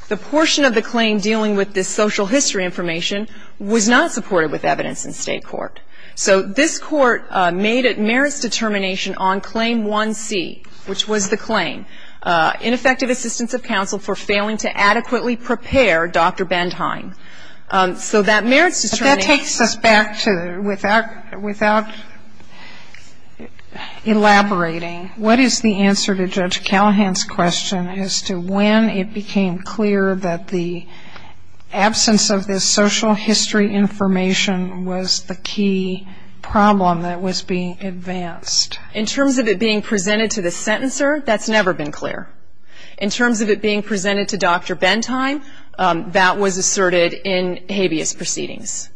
The portion of the claim dealing with this social history information was not supported with evidence in State court. So this Court made a merits determination on Claim 1C, which was the claim, ineffective assistance of counsel for failing to adequately prepare Dr. Bentheim. So that merits determination. But that takes us back to, without elaborating, what is the answer to Judge Callahan's question as to when it became clear that the absence of this social history information was the key problem that was being advanced? In terms of it being presented to the sentencer, that's never been clear. In terms of it being presented to Dr. Bentheim, that was asserted in habeas proceedings.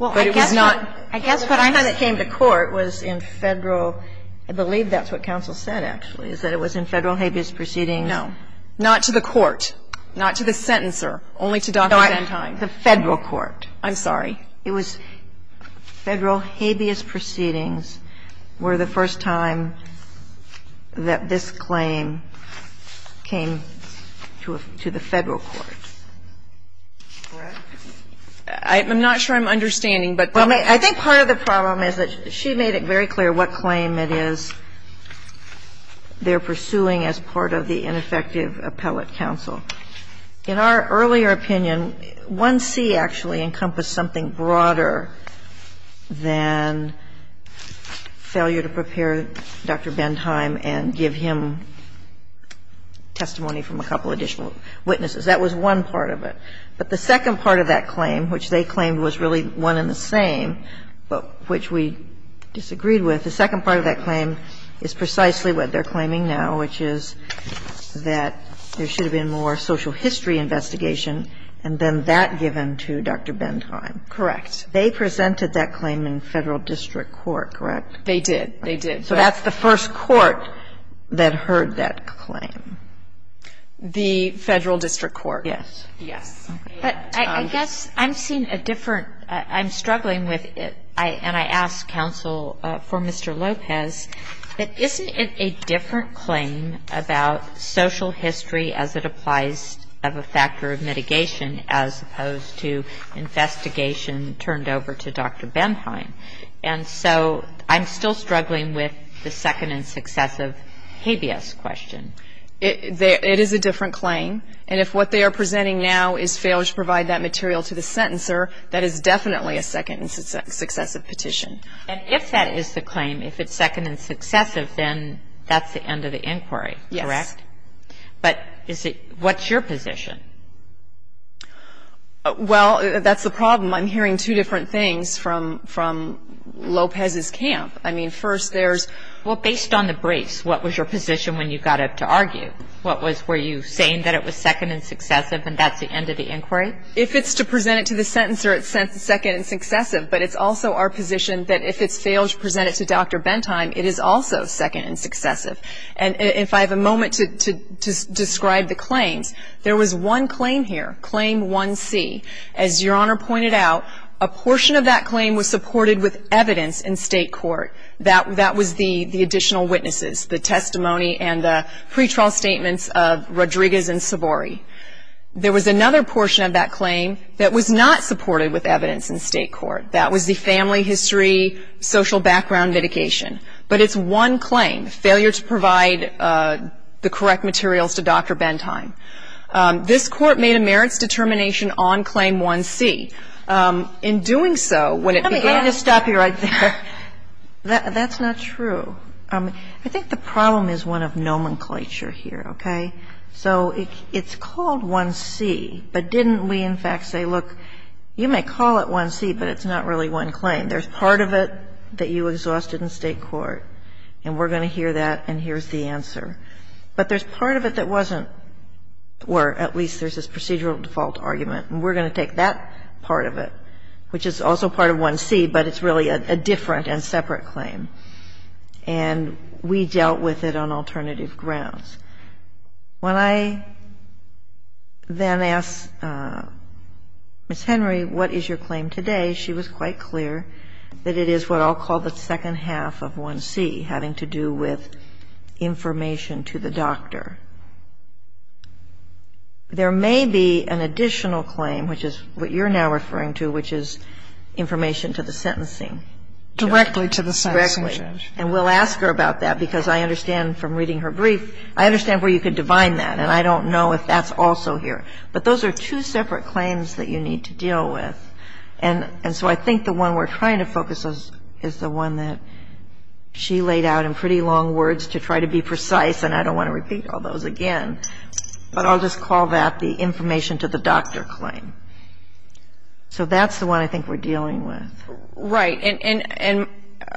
Well, I guess what I heard that came to court was in Federal, I believe that's what counsel said, actually, is that it was in Federal habeas proceedings. No. Not to the court, not to the sentencer, only to Dr. Bentheim. The Federal court. I'm sorry. It was Federal habeas proceedings were the first time that this claim came to the Federal court. Correct? I'm not sure I'm understanding, but. I think part of the problem is that she made it very clear what claim it is they're pursuing as part of the ineffective appellate counsel. In our earlier opinion, 1C actually encompassed something broader than failure to prepare Dr. Bentheim and give him testimony from a couple additional witnesses. That was one part of it. But the second part of that claim, which they claimed was really one and the same, but which we disagreed with, the second part of that claim is precisely what they're investigation and then that given to Dr. Bentheim. Correct. They presented that claim in Federal district court, correct? They did. They did. So that's the first court that heard that claim. The Federal district court. Yes. Yes. But I guess I'm seeing a different – I'm struggling with it, and I asked counsel for Mr. Lopez that isn't it a different claim about social history as it applies of a factor of mitigation as opposed to investigation turned over to Dr. Bentheim? And so I'm still struggling with the second and successive habeas question. It is a different claim. And if what they are presenting now is failure to provide that material to the sentencer, that is definitely a second and successive petition. And if that is the claim, if it's second and successive, then that's the end of the inquiry, correct? Yes. But is it – what's your position? Well, that's the problem. I'm hearing two different things from Lopez's camp. I mean, first there's – Well, based on the briefs, what was your position when you got up to argue? What was – were you saying that it was second and successive and that's the end of the inquiry? If it's to present it to the sentencer, it's second and successive, but it's also our position that if it fails to present it to Dr. Bentheim, it is also second and successive. And if I have a moment to describe the claims, there was one claim here, Claim 1C. As Your Honor pointed out, a portion of that claim was supported with evidence in state court. That was the additional witnesses, the testimony and the pretrial statements of Rodriguez and Savory. There was another portion of that claim that was not supported with evidence in state court. That was the family history, social background mitigation. But it's one claim, failure to provide the correct materials to Dr. Bentheim. This Court made a merits determination on Claim 1C. In doing so, when it began – Let me just stop you right there. That's not true. I think the problem is one of nomenclature here, okay? So it's called 1C, but didn't we in fact say, look, you may call it 1C, but it's not really one claim. There's part of it that you exhausted in state court, and we're going to hear that, and here's the answer. But there's part of it that wasn't, or at least there's this procedural default argument, and we're going to take that part of it, which is also part of 1C, but it's really a different and separate claim. And we dealt with it on alternative grounds. When I then asked Ms. Henry, what is your claim today, she was quite clear that it is what I'll call the second half of 1C, having to do with information to the doctor. There may be an additional claim, which is what you're now referring to, which is information to the sentencing judge. Directly to the sentencing judge. And we'll ask her about that, because I understand from reading her brief, I understand where you could divine that, and I don't know if that's also here. But those are two separate claims that you need to deal with. And so I think the one we're trying to focus on is the one that she laid out in pretty long words to try to be precise, and I don't want to repeat all those again. But I'll just call that the information to the doctor claim. So that's the one I think we're dealing with. Right. And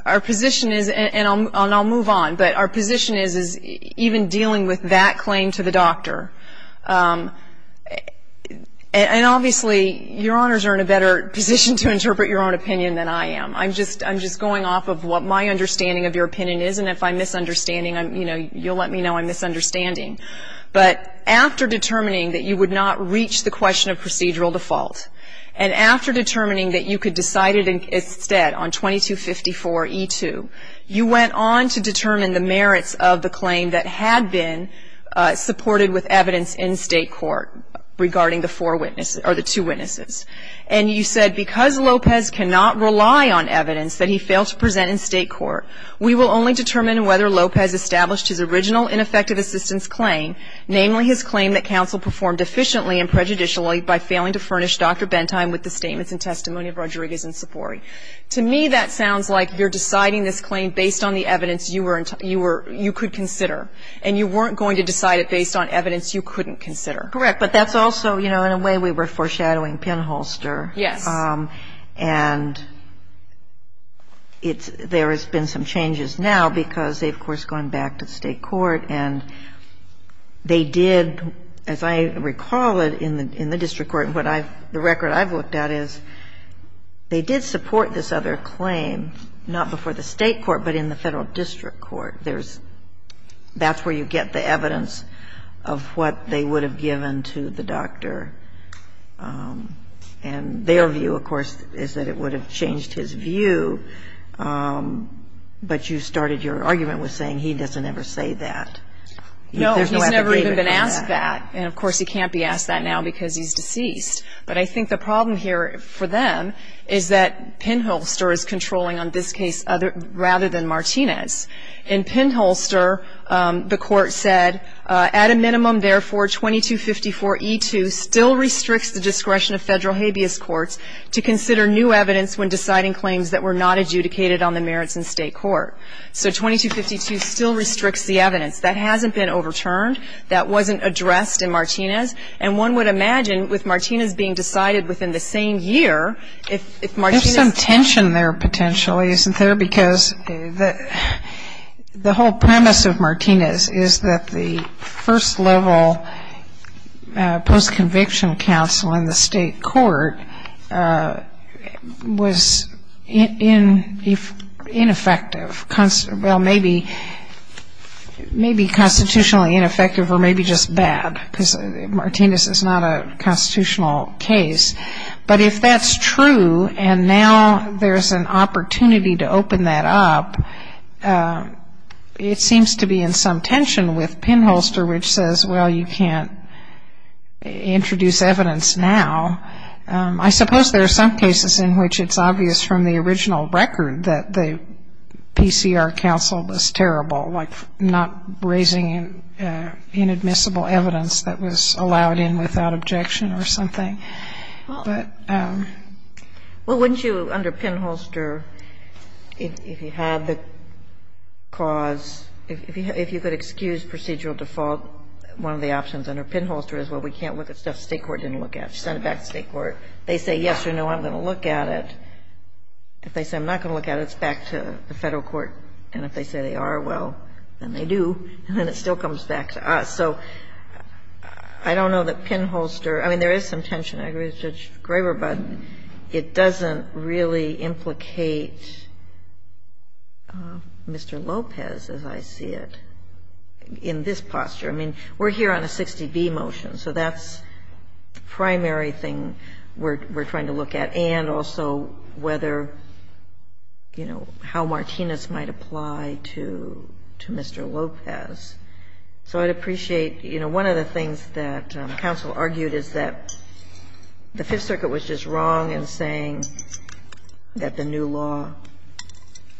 our position is, and I'll move on, but our position is even dealing with that claim to the doctor, and obviously, Your Honors are in a better position to interpret your own opinion than I am. I'm just going off of what my understanding of your opinion is, and if I'm misunderstanding, you'll let me know I'm misunderstanding. But after determining that you would not reach the question of procedural default, and after determining that you could decide it instead on 2254E2, you went on to determine the merits of the claim that had been supported with evidence in state court regarding the two witnesses. And you said, because Lopez cannot rely on evidence that he failed to present in state court, we will only determine whether Lopez established his original ineffective assistance claim, namely his claim that counsel performed efficiently and prejudicially by failing to furnish Dr. Bentheim with the statements and testimony of Rodriguez and Cipori. To me, that sounds like you're deciding this claim based on the evidence you could consider, and you weren't going to decide it based on evidence you couldn't consider. Correct. But that's also, you know, in a way we were foreshadowing pinholster. Yes. And it's – there has been some changes now because they've, of course, gone back to the state court and they did, as I recall it, in the district court, and what I've – the record I've looked at is they did support this other claim, not before the state court, but in the federal district court. There's – that's where you get the evidence of what they would have given to the doctor and their view, of course, is that it would have changed his view, but you started your argument with saying he doesn't ever say that. No, he's never even been asked that, and, of course, he can't be asked that now because he's deceased. But I think the problem here for them is that pinholster is controlling on this case rather than Martinez. In pinholster, the court said, at a minimum, therefore, 2254E2 still restricts the discretion of federal habeas courts to consider new evidence when deciding claims that were not adjudicated on the merits in state court. So 2252 still restricts the evidence. That hasn't been overturned. That wasn't addressed in Martinez, and one would imagine with Martinez being decided within the same year, if Martinez – There's a tension there, potentially, isn't there, because the whole premise of Martinez is that the first-level post-conviction counsel in the state court was ineffective, well, maybe constitutionally ineffective or maybe just bad, because Martinez is not a constitutional case. But if that's true and now there's an opportunity to open that up, it seems to be in some tension with pinholster, which says, well, you can't introduce evidence now. I suppose there are some cases in which it's obvious from the original record that the PCR counsel was terrible, like not raising inadmissible evidence that was allowed in without objection or something. But the question is, well, wouldn't you, under pinholster, if you had the cause – if you could excuse procedural default, one of the options under pinholster is, well, we can't look at stuff the state court didn't look at. You send it back to the state court. They say, yes or no, I'm going to look at it. If they say I'm not going to look at it, it's back to the Federal court. And if they say they are, well, then they do, and then it still comes back to us. So I don't know that pinholster – I mean, there is some tension. I agree with Judge Graber, but it doesn't really implicate Mr. Lopez, as I see it, in this posture. I mean, we're here on a 60B motion, so that's the primary thing we're trying to look at, and also whether, you know, how Martinez might apply to Mr. Lopez. So I'd appreciate, you know, one of the things that counsel argued is that the Fifth Circuit was just wrong in saying that the new law,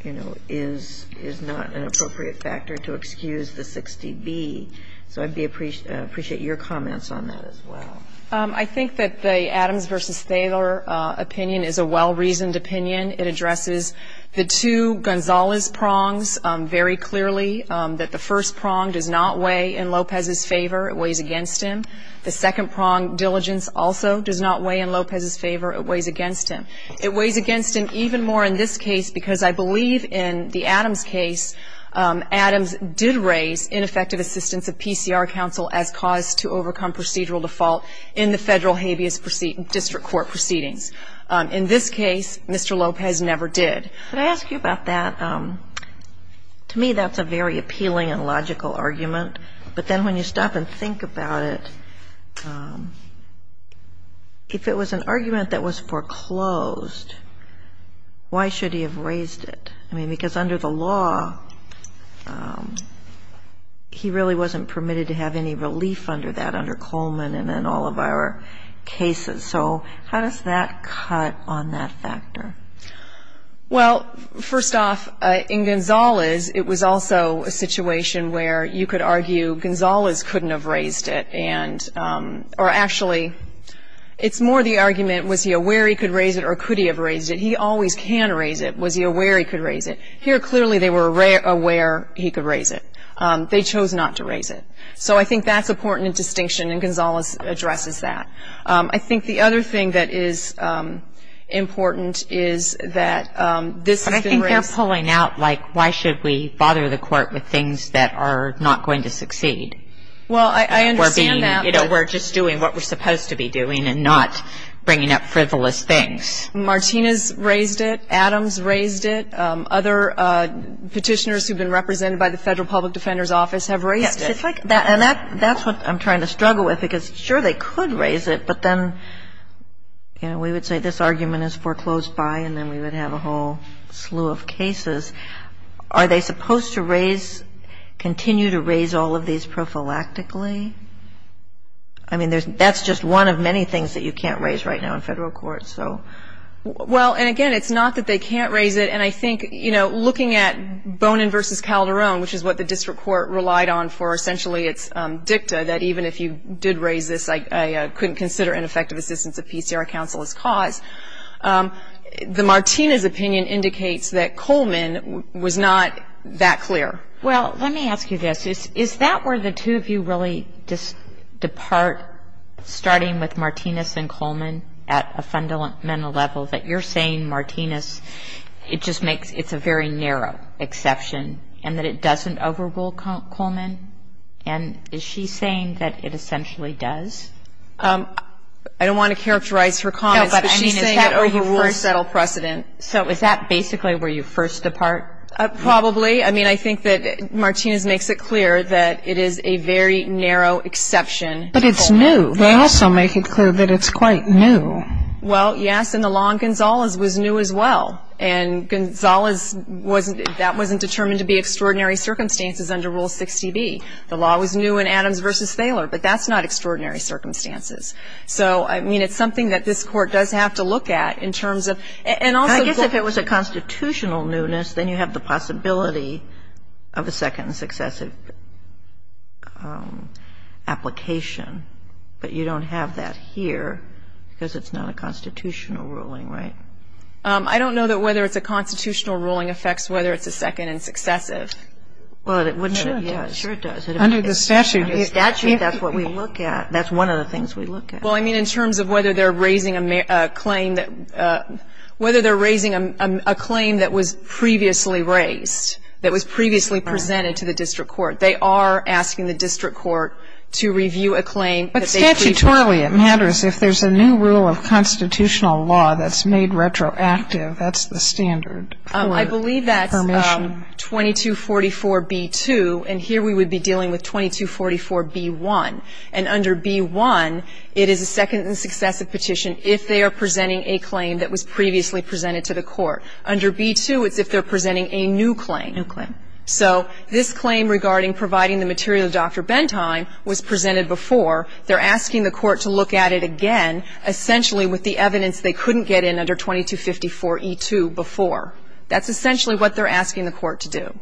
you know, is not an appropriate factor to excuse the 60B. So I'd appreciate your comments on that as well. I think that the Adams v. Thaler opinion is a well-reasoned opinion. It addresses the two Gonzales prongs very clearly, that the first prong does not weigh in Lopez's favor. It weighs against him. The second prong, diligence, also does not weigh in Lopez's favor. It weighs against him. It weighs against him even more in this case because I believe in the Adams case, Adams did raise ineffective assistance of PCR counsel as cause to overcome procedural default in the Federal habeas district court proceedings. In this case, Mr. Lopez never did. Could I ask you about that? To me, that's a very appealing and logical argument. But then when you stop and think about it, if it was an argument that was foreclosed, why should he have raised it? I mean, because under the law, he really wasn't permitted to have any relief under that under Coleman and in all of our cases. So how does that cut on that factor? Well, first off, in Gonzales, it was also a situation where you could argue Gonzales couldn't have raised it, or actually, it's more the argument, was he aware he could raise it or could he have raised it? He always can raise it. Was he aware he could raise it? Here, clearly, they were aware he could raise it. They chose not to raise it. So I think that's important in distinction, and Gonzales addresses that. I think the other thing that is important is that this has been raised. But I think they're pulling out, like, why should we bother the court with things that are not going to succeed? Well, I understand that. We're just doing what we're supposed to be doing and not bringing up frivolous things. Martinez raised it. Adams raised it. Other Petitioners who have been represented by the Federal Public Defender's Office have raised it. And that's what I'm trying to struggle with, because, sure, they could raise it, but then, you know, we would say this argument is foreclosed by, and then we would have a whole slew of cases. Are they supposed to raise, continue to raise all of these prophylactically? I mean, that's just one of many things that you can't raise right now in Federal court, so. Well, and, again, it's not that they can't raise it. And I think, you know, looking at Bonin v. Calderon, which is what the district court relied on for essentially its dicta, that even if you did raise this, I couldn't consider ineffective assistance of PCR counsel as cause, the Martinez opinion indicates that Coleman was not that clear. Well, let me ask you this. Is that where the two of you really just depart, starting with Martinez and Coleman, at a fundamental level, that you're saying Martinez, it just makes, it's a very narrow exception, and that it doesn't overrule Coleman? And is she saying that it essentially does? I don't want to characterize her comments, but she's saying it overrules settled precedent. So is that basically where you first depart? Probably. I mean, I think that Martinez makes it clear that it is a very narrow exception. But it's new. They also make it clear that it's quite new. Well, yes, and the law in Gonzalez was new as well. And Gonzalez wasn't, that wasn't determined to be extraordinary circumstances under Rule 60B. The law was new in Adams v. Thaler, but that's not extraordinary circumstances. So, I mean, it's something that this Court does have to look at in terms of, and also I guess if it was a constitutional newness, then you have the possibility of a second successive application, but you don't have that here because it's not a constitutional ruling, right? I don't know that whether it's a constitutional ruling affects whether it's a second and successive. Sure it does. Under the statute. Under the statute, that's what we look at. That's one of the things we look at. Well, I mean, in terms of whether they're raising a claim that was previously raised, that was previously presented to the district court. They are asking the district court to review a claim. But statutorily it matters. If there's a new rule of constitutional law that's made retroactive, that's the standard for permission. I believe that's 2244B2, and here we would be dealing with 2244B1. And under B1, it is a second and successive petition if they are presenting a claim that was previously presented to the court. Under B2, it's if they're presenting a new claim. New claim. So this claim regarding providing the material to Dr. Bentheim was presented before. They're asking the court to look at it again, essentially with the evidence they couldn't get in under 2254E2 before. That's essentially what they're asking the court to do.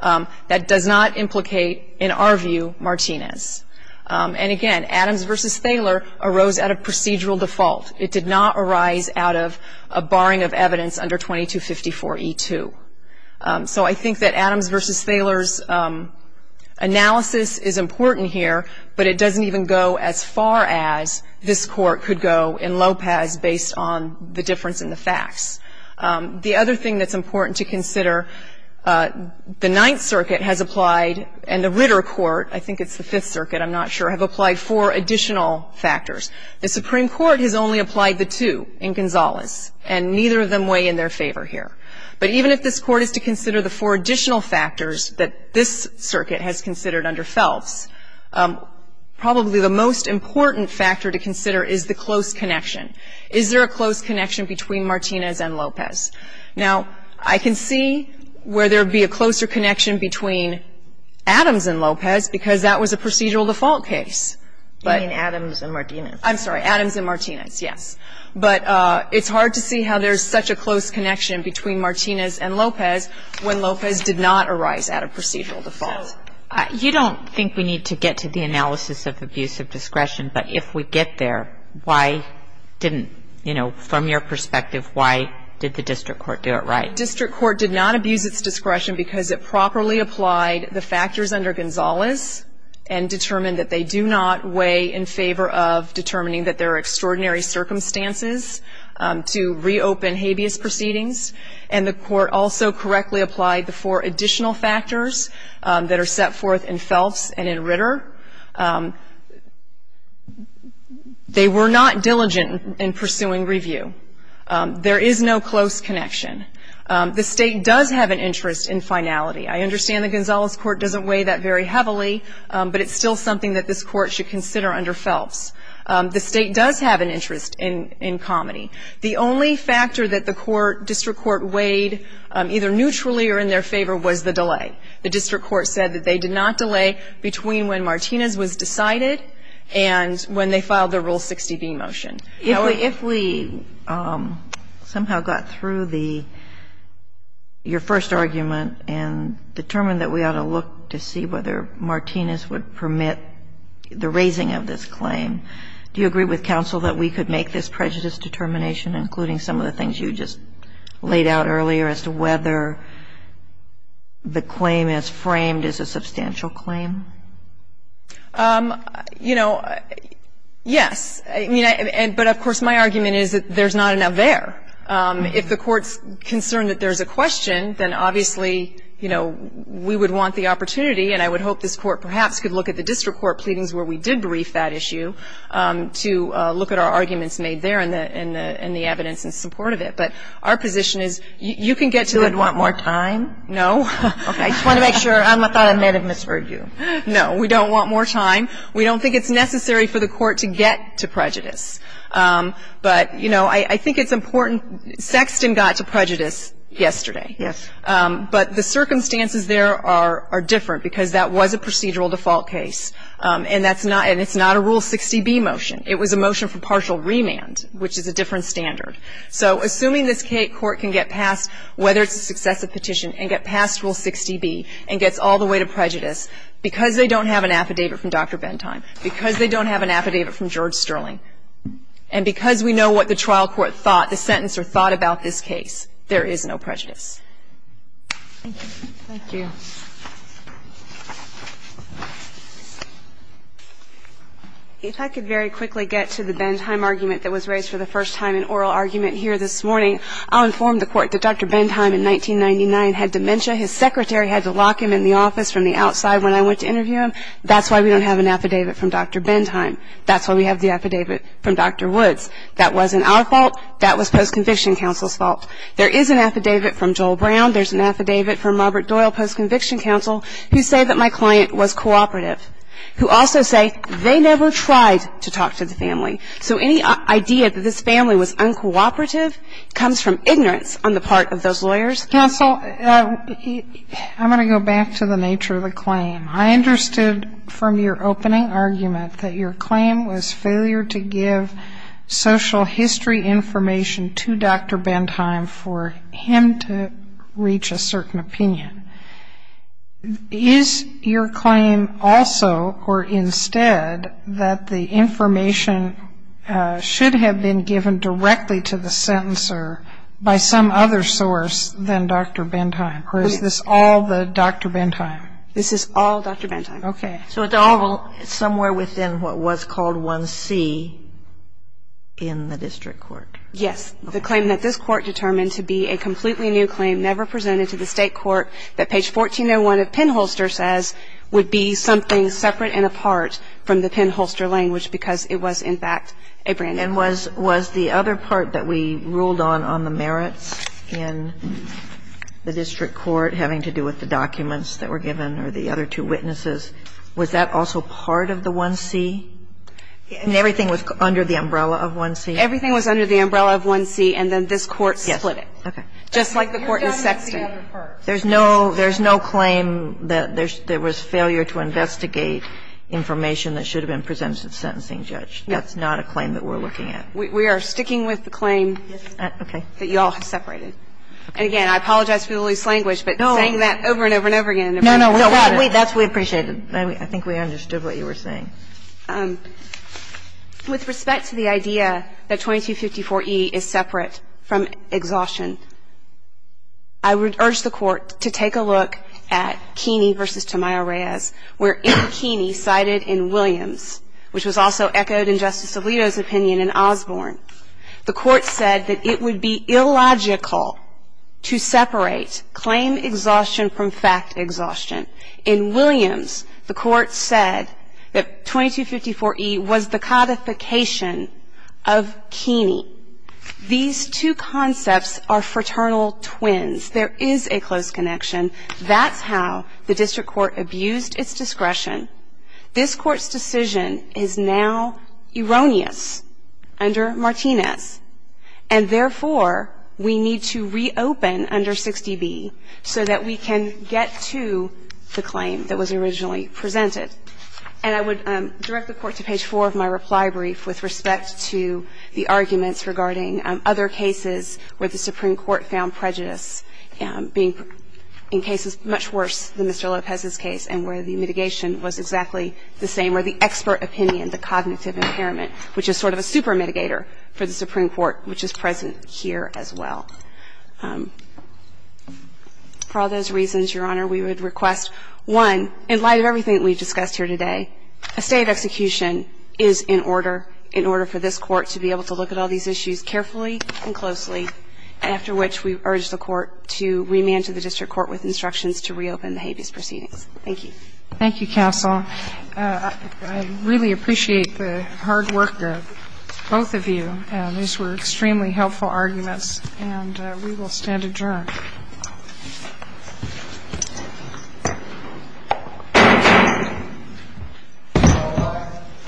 That does not implicate, in our view, Martinez. And, again, Adams v. Thaler arose out of procedural default. It did not arise out of a barring of evidence under 2254E2. So I think that Adams v. Thaler's analysis is important here, but it doesn't even go as far as this Court could go in Lopez based on the difference in the facts. The other thing that's important to consider, the Ninth Circuit has applied and the Ritter Court, I think it's the Fifth Circuit, I'm not sure, have applied four additional factors. The Supreme Court has only applied the two in Gonzales, and neither of them weigh in their favor here. But even if this Court is to consider the four additional factors that this circuit has considered under Phelps, probably the most important factor to consider is the close connection. Is there a close connection between Martinez and Lopez? Now, I can see where there would be a closer connection between Adams and Lopez because that was a procedural default case. But ---- You mean Adams and Martinez. I'm sorry. Adams and Martinez, yes. But it's hard to see how there's such a close connection between Martinez and Lopez when Lopez did not arise at a procedural default. You don't think we need to get to the analysis of abuse of discretion, but if we get there, why didn't, you know, from your perspective, why did the district court do it right? The district court did not abuse its discretion because it properly applied the factors under Gonzales and determined that they do not weigh in favor of determining that there are extraordinary circumstances to reopen habeas proceedings. And the court also correctly applied the four additional factors that are set forth in Phelps and in Ritter. They were not diligent in pursuing review. There is no close connection. The State does have an interest in finality. I understand the Gonzales Court doesn't weigh that very heavily, but it's still something that this Court should consider under Phelps. The State does have an interest in comedy. The only factor that the court, district court, weighed either neutrally or in their favor was the delay. The district court said that they did not delay between when Martinez was decided and when they filed the Rule 60b motion. If we somehow got through the, your first argument and determined that we ought to look to see whether Martinez would permit the raising of this claim, do you agree with counsel that we could make this prejudice determination, including some of the things you just laid out earlier as to whether the claim is framed as a substantial claim? You know, yes. I mean, but, of course, my argument is that there's not enough there. If the court's concerned that there's a question, then obviously, you know, we would want the opportunity, and I would hope this court perhaps could look at the district court pleadings where we did brief that issue to look at our arguments made there and the evidence in support of it. But our position is you can get to it. Do you want more time? No. Okay. I just want to make sure. I thought I may have misheard you. No. We don't want more time. We don't think it's necessary for the court to get to prejudice. But, you know, I think it's important. Sexton got to prejudice yesterday. Yes. But the circumstances there are different because that was a procedural default case, and that's not and it's not a Rule 60B motion. It was a motion for partial remand, which is a different standard. So assuming this Court can get past whether it's a successive petition and get past Rule 60B and gets all the way to prejudice, because they don't have an affidavit from Dr. Bentheim, because they don't have an affidavit from George Sterling, and because we know what the trial court thought, the sentence or thought about this case, there is no prejudice. Thank you. Thank you. If I could very quickly get to the Bentheim argument that was raised for the first time in oral argument here this morning, I'll inform the Court that Dr. Bentheim in 1999 had dementia. His secretary had to lock him in the office from the outside when I went to interview him. That's why we don't have an affidavit from Dr. Bentheim. That's why we have the affidavit from Dr. Woods. That wasn't our fault. That was post-conviction counsel's fault. There is an affidavit from Joel Brown. There's an affidavit from Robert Doyle, post-conviction counsel, who say that my client was cooperative, who also say they never tried to talk to the family. So any idea that this family was uncooperative comes from ignorance on the part of those lawyers. Counsel, I'm going to go back to the nature of the claim. I understood from your opening argument that your claim was failure to give social history information to Dr. Bentheim for him to reach a certain opinion. Is your claim also or instead that the information should have been given directly to the sentencer by some other source than Dr. Bentheim, or is this all the Dr. Bentheim? This is all Dr. Bentheim. Okay. So it's all somewhere within what was called 1C in the district court. Yes. The claim that this court determined to be a completely new claim never presented to the state court that page 1401 of Penholster says would be something separate and apart from the Penholster language because it was, in fact, a brand-new claim. And was the other part that we ruled on on the merits in the district court having to do with the documents that were given or the other two witnesses, was that also part of the 1C? And everything was under the umbrella of 1C? Everything was under the umbrella of 1C, and then this court split it. Okay. Just like the court in Sexton. There's no claim that there was failure to investigate information that should have been presented to the sentencing judge. That's not a claim that we're looking at. We are sticking with the claim that you all have separated. And, again, I apologize for the loose language, but saying that over and over and over again. No, no. That's what we appreciated. I think we understood what you were saying. With respect to the idea that 2254E is separate from exhaustion, I would urge the Court to take a look at Keeney v. Tamayo-Reyes, where in Keeney, cited in Williams, which was also echoed in Justice Alito's opinion in Osborne, the Court said that it would be illogical to separate claim exhaustion from fact exhaustion. In Williams, the Court said that 2254E was the codification of Keeney. These two concepts are fraternal twins. There is a close connection. That's how the district court abused its discretion. This Court's decision is now erroneous under Martinez. And, therefore, we need to reopen under 60B so that we can get to the claim that was originally presented. And I would direct the Court to page 4 of my reply brief with respect to the arguments regarding other cases where the Supreme Court found prejudice being, in cases much worse than Mr. Lopez's case and where the mitigation was exactly the same or the expert opinion, the cognitive impairment, which is sort of a super mitigator for the Supreme Court, which is present here as well. For all those reasons, Your Honor, we would request, one, in light of everything that we've discussed here today, a state execution is in order, in order for this Court to be able to look at all these issues carefully and closely, after which we urge the Court to remand to the district court with instructions to reopen the habeas proceedings. Thank you. Thank you, counsel. I really appreciate the hard work of both of you. These were extremely helpful arguments. And we will stand adjourned. �